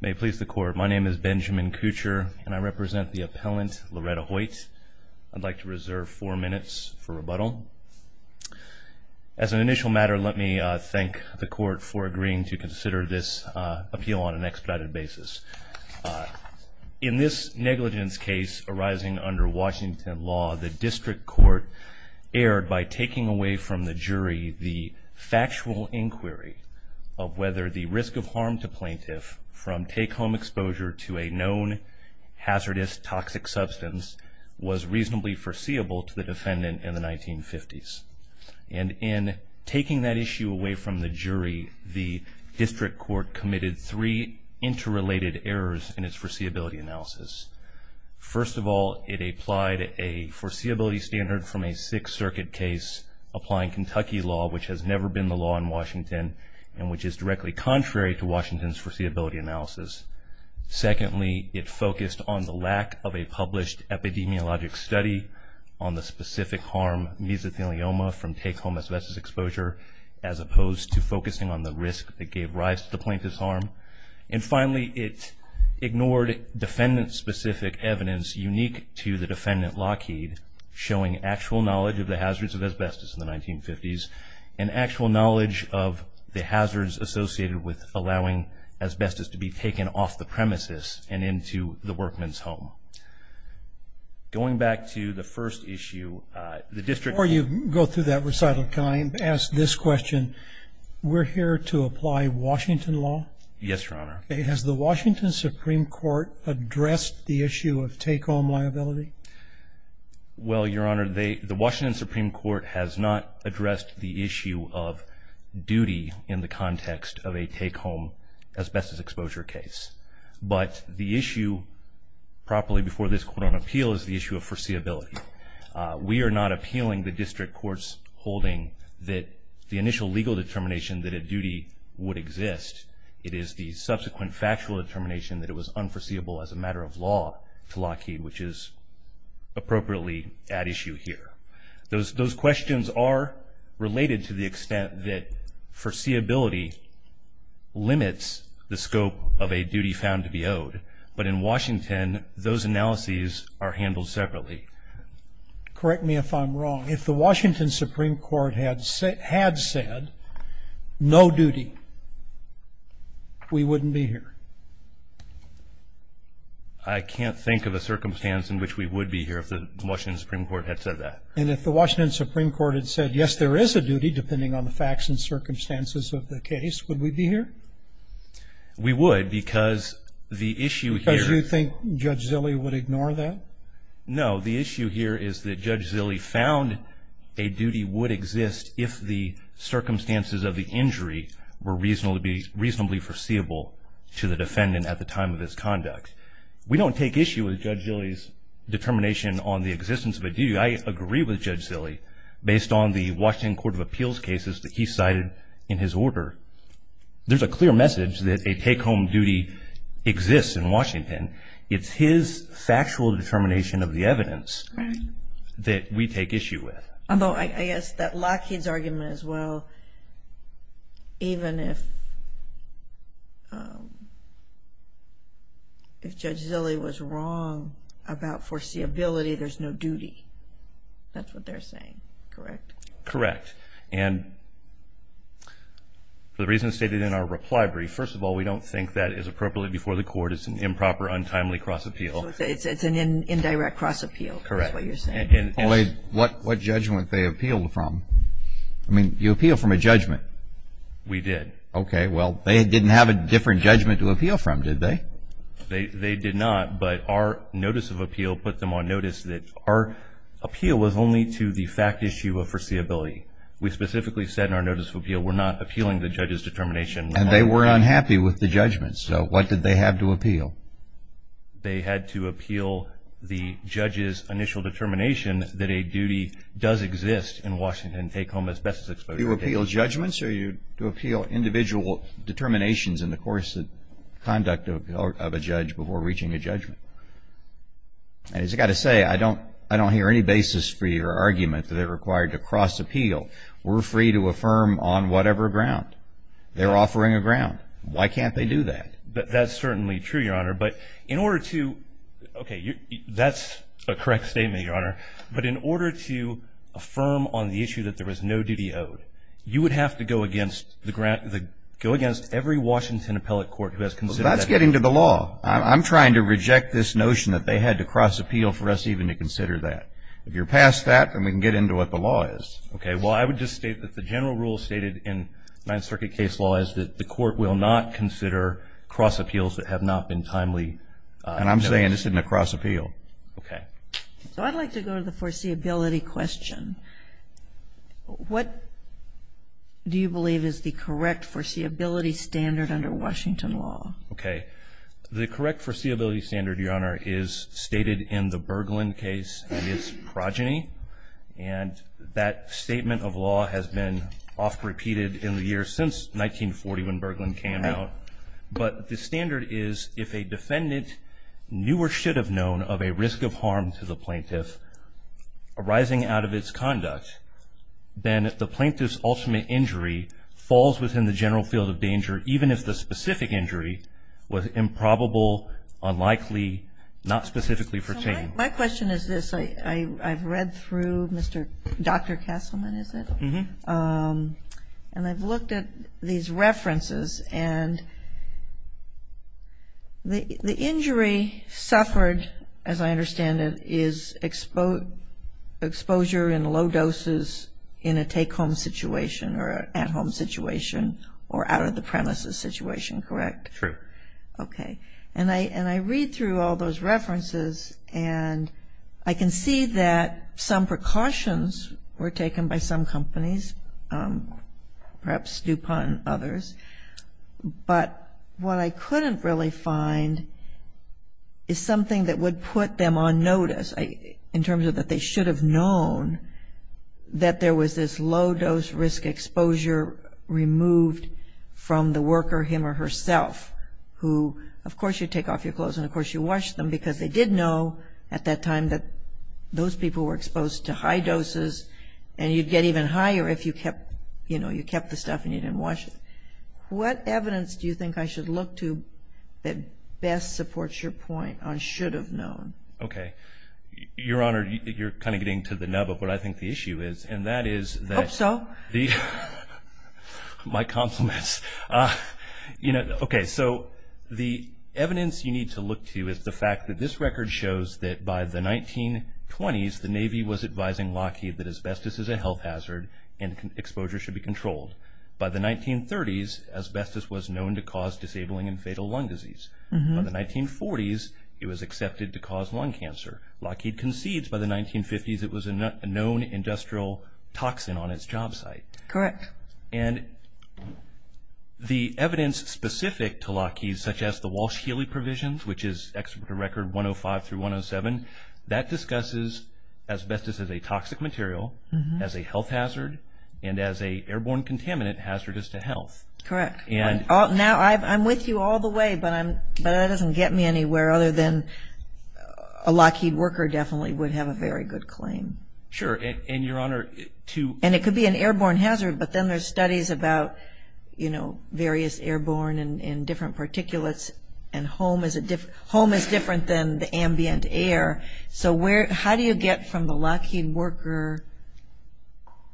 May it please the court, my name is Benjamin Kutcher and I represent the appellant Loretta Hoyt. I'd like to reserve four minutes for rebuttal. As an initial matter, let me thank the court for agreeing to consider this appeal on an expedited basis. In this negligence case arising under Washington law, the district court erred by taking away from the jury the factual inquiry of whether the risk of harm to plaintiff from take-home exposure to a known hazardous toxic substance was reasonably foreseeable to the defendant in the 1950s. And in taking that issue away from the jury, the district court committed three interrelated errors in its foreseeability analysis. First of all, it applied a foreseeability standard from a Sixth Circuit case applying Kentucky law, which has never been the law in Washington and which is directly contrary to Washington's foreseeability analysis. Secondly, it focused on the lack of a published epidemiologic study on the specific harm mesothelioma from take-home asbestos exposure as opposed to focusing on the risk that gave rise to the plaintiff's harm. And finally, it ignored defendant-specific evidence unique to the defendant, Lockheed, showing actual knowledge of the hazards of asbestos in the 1950s and actual knowledge of the hazards associated with allowing asbestos to be taken off the premises and into the workman's home. Going back to the first issue, the district- Before you go through that recital, can I ask this question? We're here to apply Washington law? Yes, Your Honor. Has the Washington Supreme Court addressed the issue of take-home liability? Well, Your Honor, the Washington Supreme Court has not addressed the issue of duty in the context of a take-home asbestos exposure case. But the issue, properly before this court on appeal, is the issue of foreseeability. We are not appealing the district court's holding that the initial legal determination that a duty would exist, it is the subsequent factual determination that it was unforeseeable as a matter of law to Lockheed, which is appropriately at issue here. Those questions are related to the extent that foreseeability limits the scope of a duty found to be owed. But in Washington, those analyses are handled separately. Correct me if I'm wrong. If the Washington Supreme Court had said no duty, we wouldn't be here. I can't think of a circumstance in which we would be here if the Washington Supreme Court had said that. And if the Washington Supreme Court had said, yes, there is a duty, depending on the facts and circumstances of the case, would we be here? We would, because the issue here- Because you think Judge Zille would ignore that? No, the issue here is that Judge Zille found a duty would exist if the circumstances of the injury were reasonably foreseeable to the defendant at the time of his conduct. We don't take issue with Judge Zille's determination on the existence of a duty. I agree with Judge Zille, based on the Washington Court of Appeals cases that he cited in his order. There's a clear message that a take-home duty exists in Washington. It's his factual determination of the evidence that we take issue with. Although I guess that Lockheed's argument as well, even if Judge Zille was wrong about foreseeability, there's no duty. That's what they're saying, correct? Correct. And for the reasons stated in our reply brief, first of all, we don't think that is appropriately before the court. It's an improper, untimely cross-appeal. It's an indirect cross-appeal. Correct. That's what you're saying. Only what judgment they appealed from. I mean, you appeal from a judgment. We did. Okay, well, they didn't have a different judgment to appeal from, did they? They did not, but our notice of appeal put them on notice that our appeal was only to the fact issue of foreseeability. We specifically said in our notice of appeal, we're not appealing the judge's determination. And they were unhappy with the judgment, so what did they have to appeal? They had to appeal the judge's initial determination that a duty does exist in Washington and take home as best as exposure. You appeal judgments or you appeal individual determinations in the course of conduct of a judge before reaching a judgment? And as I gotta say, I don't hear any basis for your argument that they're required to cross-appeal. We're free to affirm on whatever ground. They're offering a ground. Why can't they do that? That's certainly true, Your Honor, but in order to, okay, that's a correct statement, Your Honor, but in order to affirm on the issue that there was no duty owed, you would have to go against the grant, go against every Washington appellate court who has considered that. Well, that's getting to the law. I'm trying to reject this notion that they had to cross-appeal for us even to consider that. If you're past that, then we can get into what the law is. Okay, well, I would just state that the general rule stated in Ninth Circuit case law is that the court will not consider cross-appeals that have not been timely. And I'm saying this isn't a cross-appeal. Okay. So I'd like to go to the foreseeability question. What do you believe is the correct foreseeability standard under Washington law? Okay, the correct foreseeability standard, Your Honor, is stated in the Berglund case in its progeny. And that statement of law has been often repeated in the years since 1940 when Berglund came out. But the standard is if a defendant knew or should have known of a risk of harm to the plaintiff arising out of its conduct, then the plaintiff's ultimate injury falls within the general field of danger even if the specific injury was improbable, unlikely, not specifically foreseen. My question is this. I've read through Dr. Castleman, is it? Mm-hmm. And I've looked at these references and the injury suffered, as I understand it, is exposure in low doses in a take-home situation or at-home situation or out-of-the-premises situation, correct? True. Okay. And I read through all those references and I can see that some precautions were taken by some companies, perhaps DuPont and others, but what I couldn't really find is something that would put them on notice in terms of that they should have known that there was this low-dose risk exposure removed from the worker him or herself who, of course, you take off your clothes and of course you wash them because they did know at that time that those people were exposed to high doses and you'd get even higher if you kept the stuff and you didn't wash it. What evidence do you think I should look to that best supports your point on should have known? Okay. Your Honor, you're kind of getting to the nub of what I think the issue is, and that is that- Hope so. My compliments. Okay, so the evidence you need to look to is the fact that this record shows that by the 1920s, the Navy was advising Lockheed that asbestos is a health hazard and exposure should be controlled. By the 1930s, asbestos was known to cause disabling and fatal lung disease. By the 1940s, it was accepted to cause lung cancer. Lockheed concedes by the 1950s it was a known industrial toxin on its job site. Correct. And the evidence specific to Lockheed, such as the Walsh-Healy provisions, which is Executive Record 105 through 107, that discusses asbestos as a toxic material, as a health hazard, and as a airborne contaminant hazardous to health. Correct. Now, I'm with you all the way, but that doesn't get me anywhere other than a Lockheed worker definitely would have a very good claim. Sure, and Your Honor, to- And it could be an airborne hazard, but then there's studies about various airborne and different particulates, and home is different than the ambient air, so how do you get from the Lockheed worker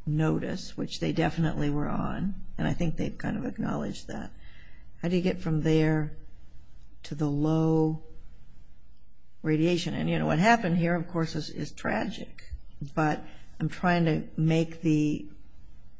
notice, which they definitely were on, and I think they've kind of acknowledged that, how do you get from there to the low radiation? And what happened here, of course, is tragic, but I'm trying to make the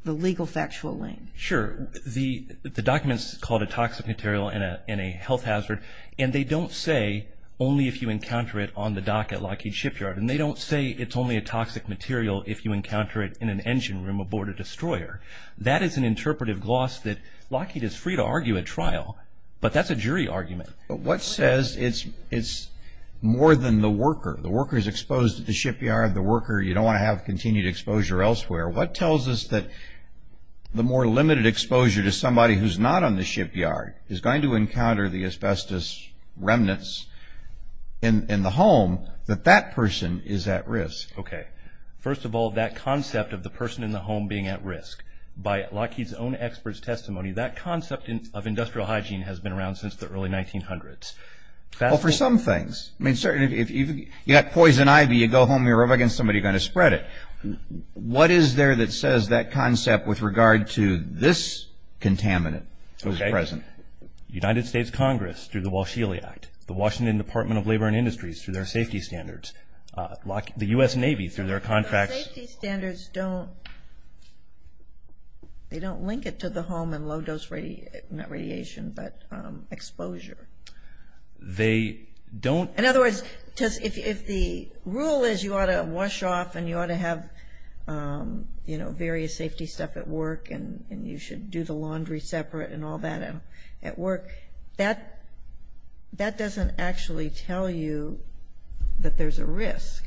legal factual link. Sure, the document's called a toxic material and a health hazard, and they don't say only if you encounter it on the dock at Lockheed Shipyard, and they don't say it's only a toxic material if you encounter it in an engine room aboard a destroyer. That is an interpretive gloss that Lockheed is free to argue at trial, but that's a jury argument. But what says it's more than the worker? The worker's exposed to the shipyard, the worker, you don't want to have continued exposure elsewhere. What tells us that the more limited exposure to somebody who's not on the shipyard is going to encounter the asbestos remnants in the home, that that person is at risk? Okay, first of all, that concept of the person in the home being at risk, by Lockheed's own expert's testimony, that concept of industrial hygiene has been around since the early 1900s. Well, for some things. I mean, certainly, if you've got poison ivy, you go home, you rub it against somebody, you're going to spread it. What is there that says that concept with regard to this contaminant that's present? United States Congress, through the Walsh-Healy Act, the Washington Department of Labor and Industries, through their safety standards, the U.S. Navy, through their contracts. The safety standards don't, they don't link it to the home and low-dose radiation, not radiation, but exposure. They don't. In other words, if the rule is you ought to wash off and you ought to have various safety stuff, and you should do the laundry separate and all that at work, that doesn't actually tell you that there's a risk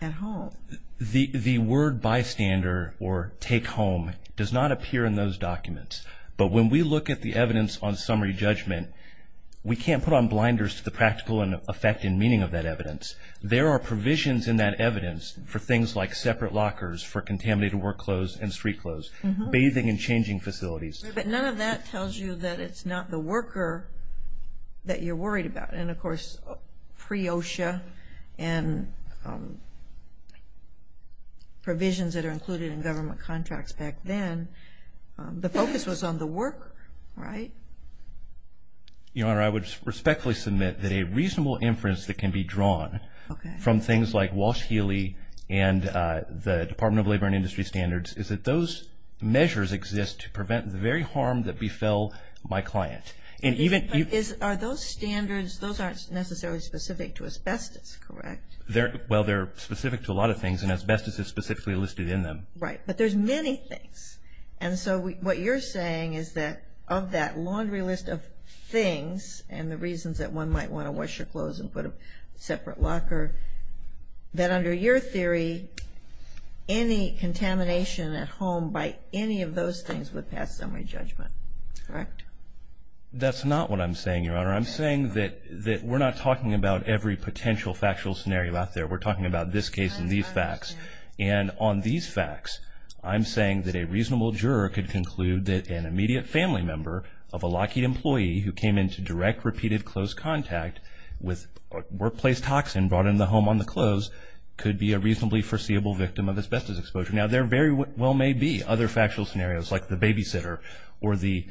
at home. The word bystander, or take home, does not appear in those documents. But when we look at the evidence on summary judgment, we can't put on blinders to the practical and effect and meaning of that evidence. There are provisions in that evidence for things like separate lockers, for contaminated work clothes and street clothes, bathing and changing facilities. But none of that tells you that it's not the worker that you're worried about. And of course, pre-OSHA and provisions that are included in government contracts back then, the focus was on the worker, right? Your Honor, I would respectfully submit that a reasonable inference that can be drawn from things like Walsh-Healy and the Department of Labor and Industry Standards is that those measures exist to prevent the very harm that befell my client. Are those standards, those aren't necessarily specific to asbestos, correct? Well, they're specific to a lot of things, and asbestos is specifically listed in them. Right, but there's many things. And so what you're saying is that of that laundry list of things, and the reasons that one might want to wash your clothes and put a separate locker, that under your theory, any contamination at home by any of those things would pass summary judgment, correct? That's not what I'm saying, Your Honor. I'm saying that we're not talking about every potential factual scenario out there. We're talking about this case and these facts. And on these facts, I'm saying that a reasonable juror could conclude that an immediate family member of a Lockheed employee who came into direct, repeated, close contact with workplace toxin and brought into the home on the close could be a reasonably foreseeable victim of asbestos exposure. Now, there very well may be other factual scenarios, like the babysitter or the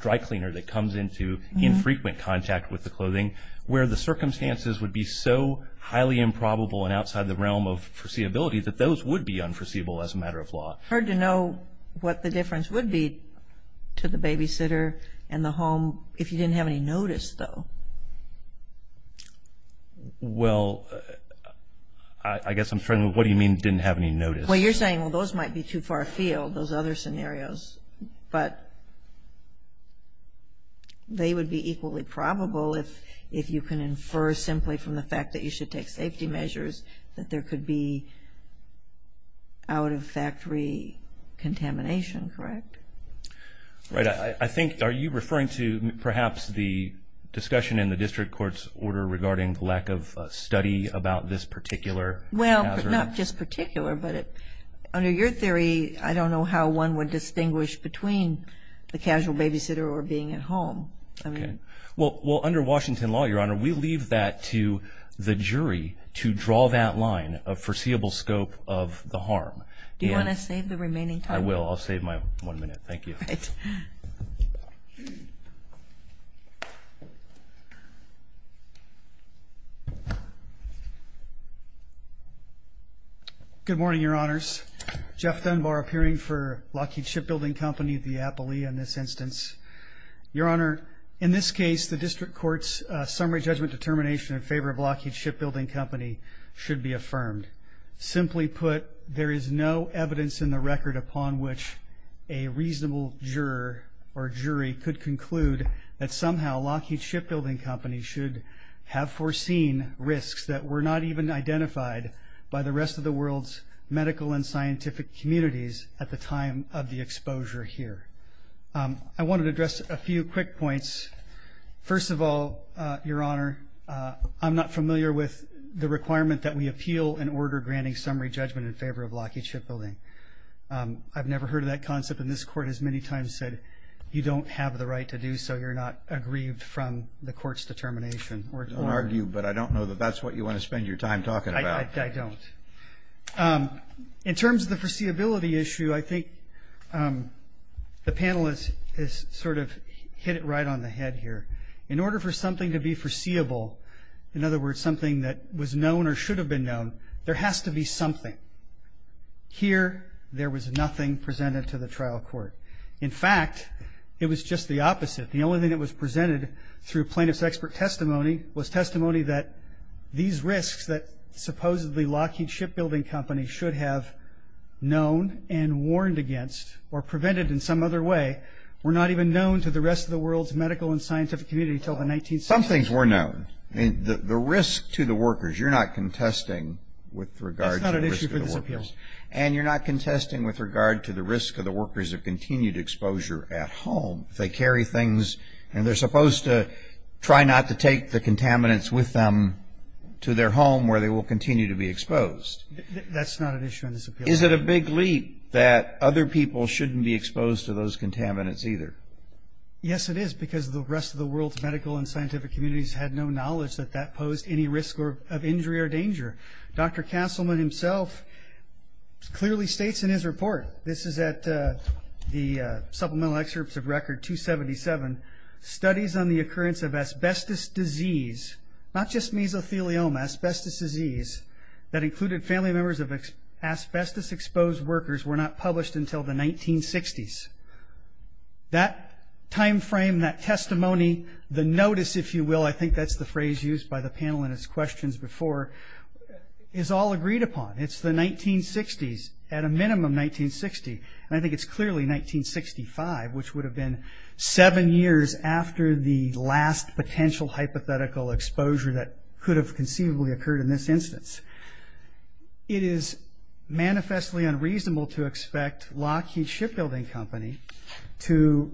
dry cleaner that comes into infrequent contact with the clothing, where the circumstances would be so highly improbable and outside the realm of foreseeability that those would be unforeseeable as a matter of law. Hard to know what the difference would be to the babysitter and the home if you didn't have any notice, though. Well, I guess I'm trying to, what do you mean didn't have any notice? Well, you're saying, well, those might be too far afield, those other scenarios. But they would be equally probable if you can infer simply from the fact that you should take safety measures that there could be out-of-factory contamination, correct? Right, I think, are you referring to perhaps the discussion in the district court's order regarding the lack of study about this particular hazard? Well, not just particular, but under your theory, I don't know how one would distinguish between the casual babysitter or being at home. Okay, well, under Washington law, Your Honor, we leave that to the jury to draw that line of foreseeable scope of the harm. Do you want to save the remaining time? I will, I'll save my one minute, thank you. All right. Thank you. Good morning, Your Honors. Jeff Dunbar, appearing for Lockheed Shipbuilding Company, the appellee in this instance. Your Honor, in this case, the district court's summary judgment determination in favor of Lockheed Shipbuilding Company should be affirmed. Simply put, there is no evidence in the record upon which a reasonable juror or jury could conclude that somehow Lockheed Shipbuilding Company should have foreseen risks that were not even identified by the rest of the world's medical and scientific communities at the time of the exposure here. I wanted to address a few quick points. First of all, Your Honor, I'm not familiar with the requirement that we appeal an order granting summary judgment in favor of Lockheed Shipbuilding. I've never heard of that concept, and this court has many times said, you don't have the right to do so. You're not aggrieved from the court's determination. We're told. Don't argue, but I don't know that that's what you want to spend your time talking about. I don't. In terms of the foreseeability issue, I think the panel has sort of hit it right on the head here. In order for something to be foreseeable, in other words, something that was known or should have been known, there has to be something. Here, there was nothing presented to the trial court. In fact, it was just the opposite. The only thing that was presented through plaintiff's expert testimony was testimony that these risks that supposedly Lockheed Shipbuilding Company should have known and warned against or prevented in some other way were not even known to the rest of the world's medical and scientific community until the 1960s. Some things were known. The risk to the workers, you're not contesting with regards to the risk of the workers. That's not an issue for this appeal. And you're not contesting with regard to the risk of the workers of continued exposure at home. If they carry things and they're supposed to try not to take the contaminants with them to their home where they will continue to be exposed. That's not an issue in this appeal. Is it a big leap that other people shouldn't be exposed to those contaminants either? Yes, it is, because the rest of the world's medical and scientific communities had no knowledge that that posed any risk of injury or danger. Dr. Castleman himself clearly states in his report this is at the Supplemental Excerpts of Record 277, studies on the occurrence of asbestos disease, not just mesothelioma, asbestos disease, that included family members of asbestos exposed workers were not published until the 1960s. That timeframe, that testimony, the notice, if you will, I think that's the phrase used by the panel in its questions before, is all agreed upon. It's the 1960s, at a minimum 1960, and I think it's clearly 1965, which would have been seven years after the last potential hypothetical exposure that could have conceivably occurred in this instance. It is manifestly unreasonable to expect Lockheed Shipbuilding Company to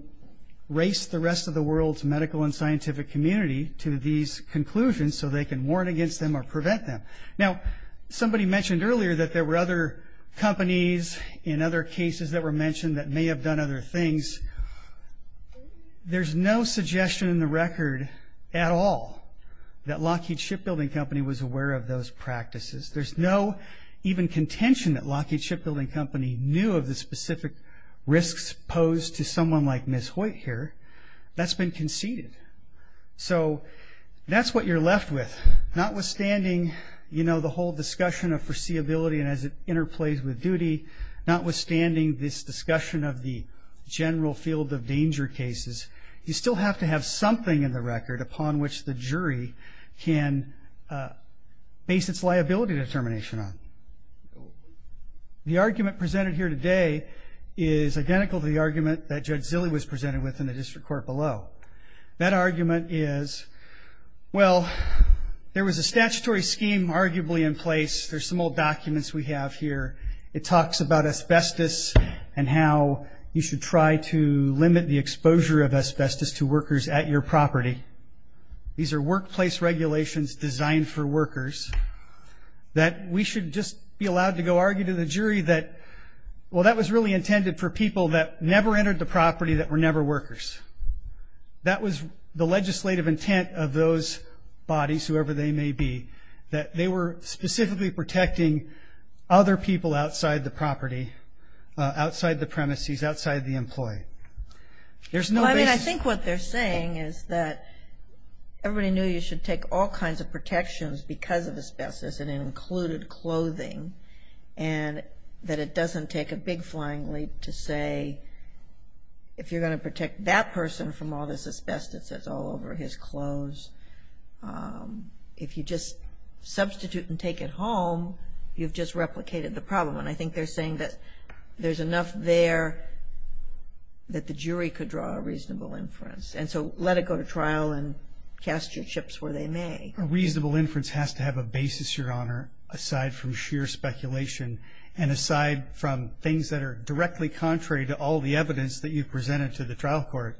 race the rest of the world's medical and scientific community to these conclusions so they can warn against them or prevent them. Now, somebody mentioned earlier that there were other companies in other cases that were mentioned that may have done other things. There's no suggestion in the record at all that Lockheed Shipbuilding Company was aware of those practices. There's no even contention that Lockheed Shipbuilding Company knew of the specific risks posed to someone like Ms. Hoyt here. That's been conceded. So that's what you're left with, notwithstanding, you know, the whole discussion of foreseeability and as it interplays with duty, notwithstanding this discussion of the general field of danger cases, you still have to have something in the record upon which the jury can base its liability determination on. The argument presented here today is identical to the argument that Judge Zille was presented with in the district court below. That argument is, well, there was a statutory scheme arguably in place. There's some old documents we have here. It talks about asbestos and how you should try to limit the exposure of asbestos to workers at your property. These are workplace regulations designed for workers that we should just be allowed to go argue to the jury that, well, that was really intended for people that never entered the property that were never workers. That was the legislative intent of those bodies, whoever they may be, that they were specifically protecting other people outside the property, outside the premises, outside the employee. There's no basis. I mean, I think what they're saying is that everybody knew you should take all kinds of protections because of asbestos and it included clothing and that it doesn't take a big flying leap to say if you're gonna protect that person from all this asbestos that's all over his clothes, if you just substitute and take it home, you've just replicated the problem. And I think they're saying that there's enough there that the jury could draw a reasonable inference. And so let it go to trial and cast your chips where they may. A reasonable inference has to have a basis, Your Honor, aside from sheer speculation and aside from things that are directly contrary to all the evidence that you've presented to the trial court.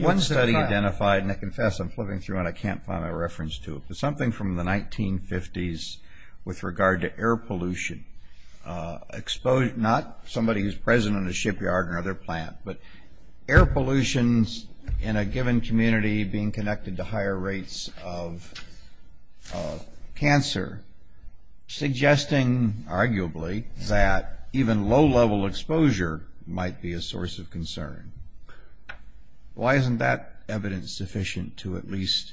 One study identified, and I confess I'm flipping through and I can't find my reference to it, but something from the 1950s with regard to air pollution, not somebody who's present in a shipyard or other plant, but air pollutions in a given community being connected to higher rates of cancer, suggesting arguably that even low-level exposure might be a source of concern. Why isn't that evidence sufficient to at least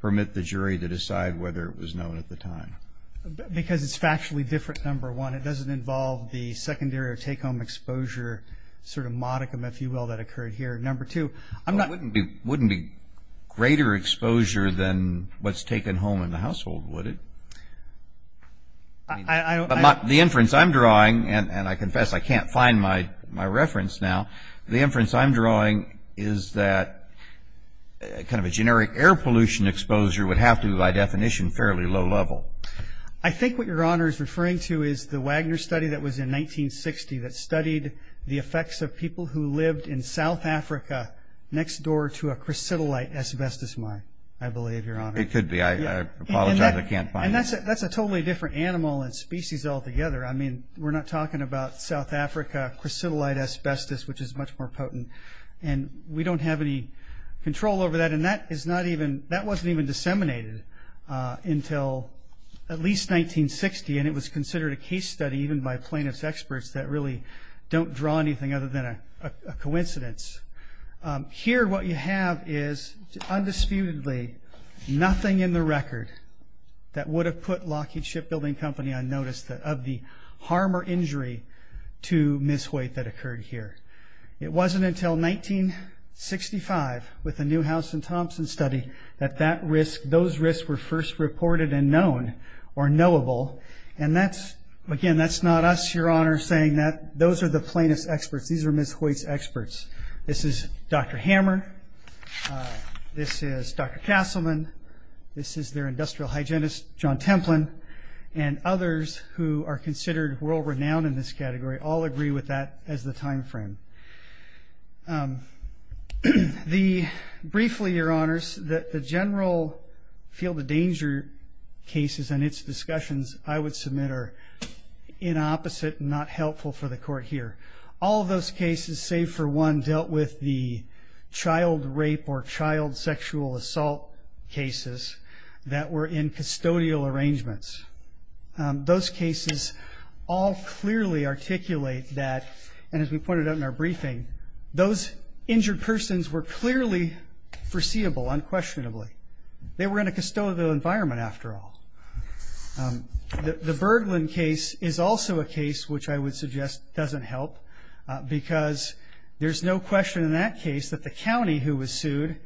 permit the jury to decide whether it was known at the time? Because it's factually different, number one. It doesn't involve the secondary or take-home exposure sort of modicum, if you will, that occurred here. Number two, I'm not- Wouldn't be greater exposure than what's taken home in the household, would it? The inference I'm drawing, and I confess I can't find my reference now, the inference I'm drawing is that kind of a generic air pollution exposure would have to be, by definition, fairly low-level. I think what Your Honor is referring to is the Wagner study that was in 1960 that studied the effects of people who lived in South Africa next door to a chrysotillite asbestos mine, I believe, Your Honor. It could be. I apologize, I can't find it. That's a totally different animal and species altogether. I mean, we're not talking about South Africa chrysotillite asbestos, which is much more potent, and we don't have any control over that, and that wasn't even disseminated until at least 1960, and it was considered a case study, even by plaintiff's experts, that really don't draw anything other than a coincidence. Here, what you have is, undisputedly, nothing in the record that would have put Lockheed Shipbuilding Company on notice of the harm or injury to Ms. Hoyt that occurred here. It wasn't until 1965, with the Newhouse and Thompson study, that those risks were first reported and known, or knowable, and that's, again, that's not us, Your Honor, saying that those are the plaintiff's experts. These are Ms. Hoyt's experts. This is Dr. Hammer, this is Dr. Castleman, this is their industrial hygienist, John Templin, and others who are considered world-renowned in this category all agree with that as the timeframe. Briefly, Your Honors, that the general field of danger cases and its discussions, I would submit, are inopposite and not helpful for the Court here. All of those cases, save for one, dealt with the child rape or child sexual assault cases that were in custodial arrangements. Those cases all clearly articulate that, and as we pointed out in our briefing, those injured persons were clearly foreseeable, unquestionably. They were in a custodial environment, after all. The Bergland case is also a case which I would suggest doesn't help because there's no question in that case that the county who was sued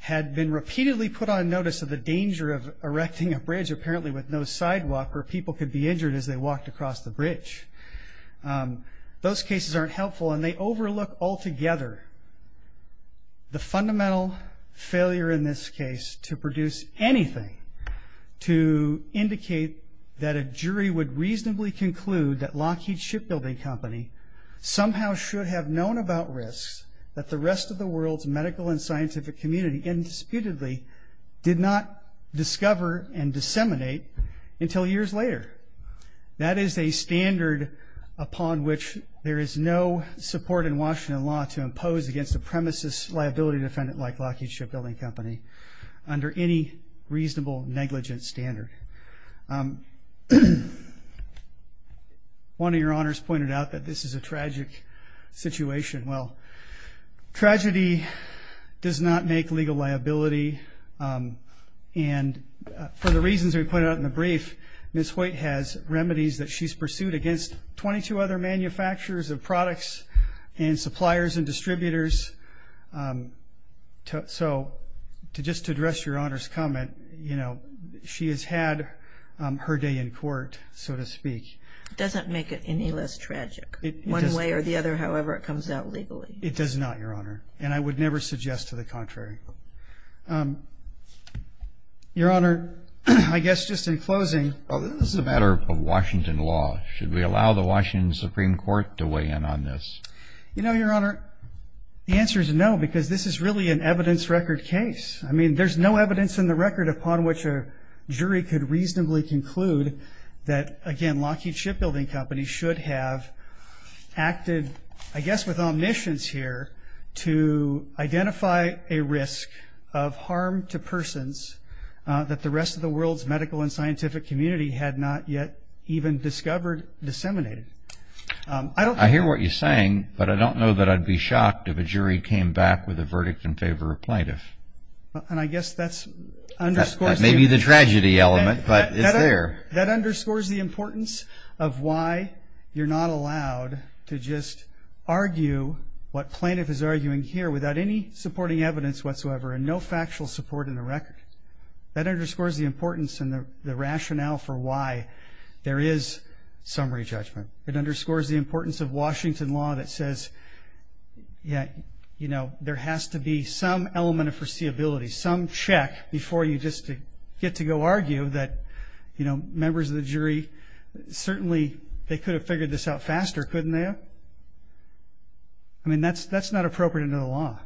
had been repeatedly put on notice of the danger of erecting a bridge, apparently with no sidewalk, where people could be injured as they walked across the bridge. Those cases aren't helpful, and they overlook altogether the fundamental failure in this case to produce anything to indicate that a jury would reasonably conclude that Lockheed Shipbuilding Company somehow should have known about risks that the rest of the world's medical and scientific community, indisputably, did not discover and disseminate until years later. That is a standard upon which there is no support in Washington law to impose against a premises liability defendant like Lockheed Shipbuilding Company under any reasonable negligent standard. One of your honors pointed out that this is a tragic situation. Well, tragedy does not make legal liability, and for the reasons we pointed out in the brief, Ms. Hoyt has remedies that she's pursued against 22 other manufacturers of products and suppliers and distributors. So, just to address your honors comment, she has had her day in court, so to speak. It doesn't make it any less tragic, one way or the other, however it comes out legally. It does not, your honor, and I would never suggest to the contrary. Your honor, I guess just in closing. Well, this is a matter of Washington law. Should we allow the Washington Supreme Court to weigh in on this? You know, your honor, the answer is no, because this is really an evidence record case. I mean, there's no evidence in the record upon which a jury could reasonably conclude that, again, Lockheed Shipbuilding Company should have acted, I guess with omniscience here, to identify a risk of harm to persons that the rest of the world's medical and scientific community had not yet even discovered, disseminated. I hear what you're saying, but I don't know that I'd be shocked if a jury came back with a verdict in favor of plaintiff. And I guess that's underscores the... That may be the tragedy element, but it's there. That underscores the importance of why you're not allowed to just argue what plaintiff is arguing here without any supporting evidence whatsoever and no factual support in the record. That underscores the importance and the rationale for why there is summary judgment. It underscores the importance of Washington law that says, yeah, you know, there has to be some element of foreseeability, some check before you just get to go argue that members of the jury, certainly they could have figured this out faster, couldn't they have? I mean, that's not appropriate under the law.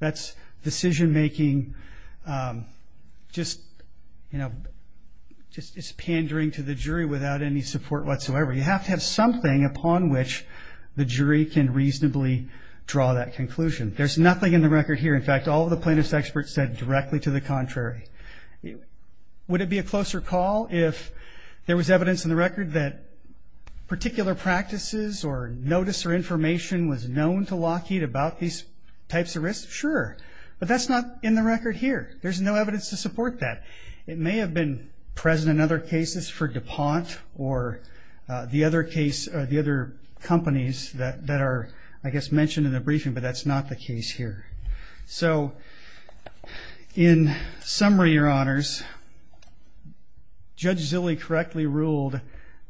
That's decision-making, just pandering to the jury without any support whatsoever. You have to have something upon which the jury can reasonably draw that conclusion. There's nothing in the record here. In fact, all of the plaintiff's experts said directly to the contrary. Would it be a closer call if there was evidence in the record that particular practices or notice or information was known to Lockheed about these types of risks? Sure, but that's not in the record here. There's no evidence to support that. It may have been present in other cases for DuPont or the other companies that are, I guess, mentioned in the briefing, but that's not the case here. So in summary, your honors, Judge Zilley correctly ruled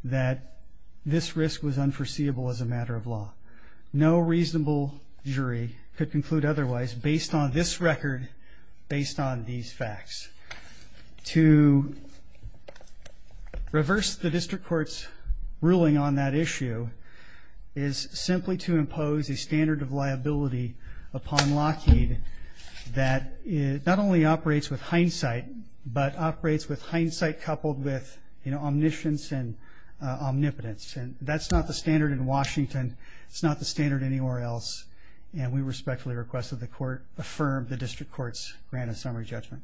that this risk was unforeseeable as a matter of law. No reasonable jury could conclude otherwise based on this record, based on these facts. To reverse the district court's ruling on that issue is simply to impose a standard of liability upon Lockheed that not only operates with hindsight, but operates with hindsight coupled with omniscience and omnipotence. And that's not the standard in Washington. It's not the standard anywhere else. And we respectfully request that the court affirm the district court's grant of summary judgment.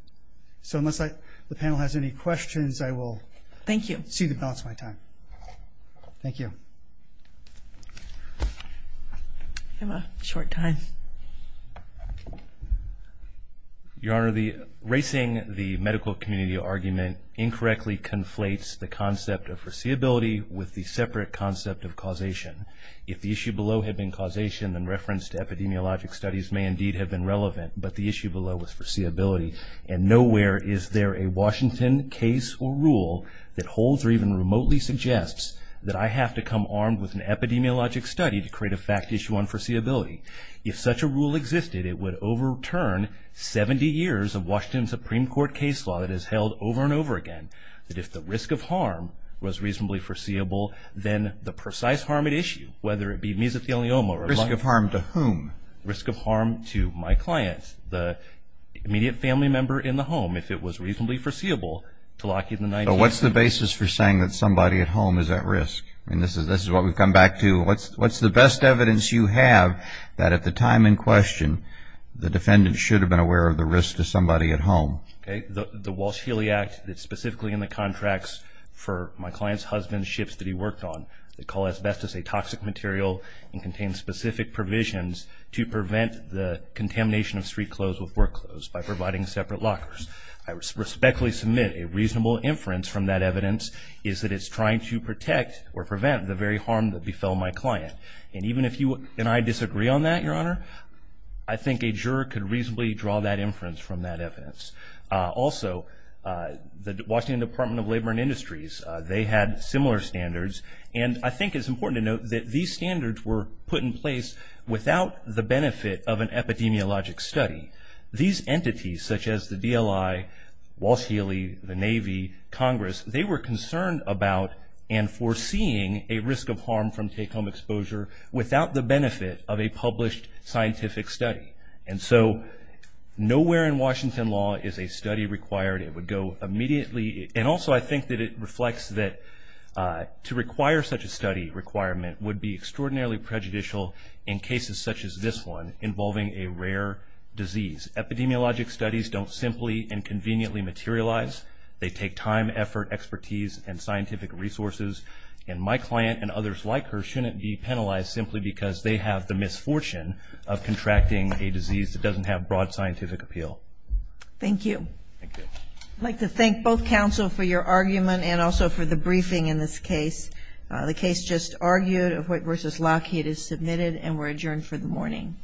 So unless the panel has any questions, I will see to balance my time. Thank you. I have a short time. Your honor, the racing the medical community argument incorrectly conflates the concept of foreseeability with the separate concept of causation. If the issue below had been causation in reference to epidemiologic studies may indeed have been relevant, but the issue below was foreseeability. And nowhere is there a Washington case or rule that holds or even remotely suggests that I have to come armed with an epidemiologic study to create a fact issue on foreseeability. If such a rule existed, it would overturn 70 years of Washington Supreme Court case law that is held over and over again. That if the risk of harm was reasonably foreseeable, then the precise harm at issue, whether it be mesothelioma or- Risk of harm to whom? Risk of harm to my clients, the immediate family member in the home, if it was reasonably foreseeable to Lockheed in the- But what's the basis for saying that somebody at home is at risk? And this is what we've come back to. What's the best evidence you have that at the time in question, the defendant should have been aware of the risk to somebody at home? Okay, the Walsh-Healy Act that's specifically in the contracts for my client's husband's ships that he worked on. They call asbestos a toxic material and contain specific provisions to prevent the contamination of street clothes with work clothes by providing separate lockers. I respectfully submit a reasonable inference from that evidence is that it's trying to protect or prevent the very harm that befell my client. And even if you and I disagree on that, your honor, I think a juror could reasonably draw that inference from that evidence. Also, the Washington Department of Labor and Industries, they had similar standards. And I think it's important to note that these standards were put in place without the benefit of an epidemiologic study. These entities, such as the DLI, Walsh-Healy, the Navy, Congress, they were concerned about and foreseeing a risk of harm from take-home exposure without the benefit of a published scientific study. And so nowhere in Washington law is a study required. It would go immediately. And also I think that it reflects that to require such a study requirement would be extraordinarily prejudicial in cases such as this one involving a rare disease. Epidemiologic studies don't simply and conveniently materialize. They take time, effort, expertise, and scientific resources. And my client and others like her shouldn't be penalized simply because they have the misfortune of contracting a disease that doesn't have broad scientific appeal. Thank you. Thank you. I'd like to thank both counsel for your argument and also for the briefing in this case. The case just argued, Ahoyt v. Lockheed is submitted and we're adjourned for the morning.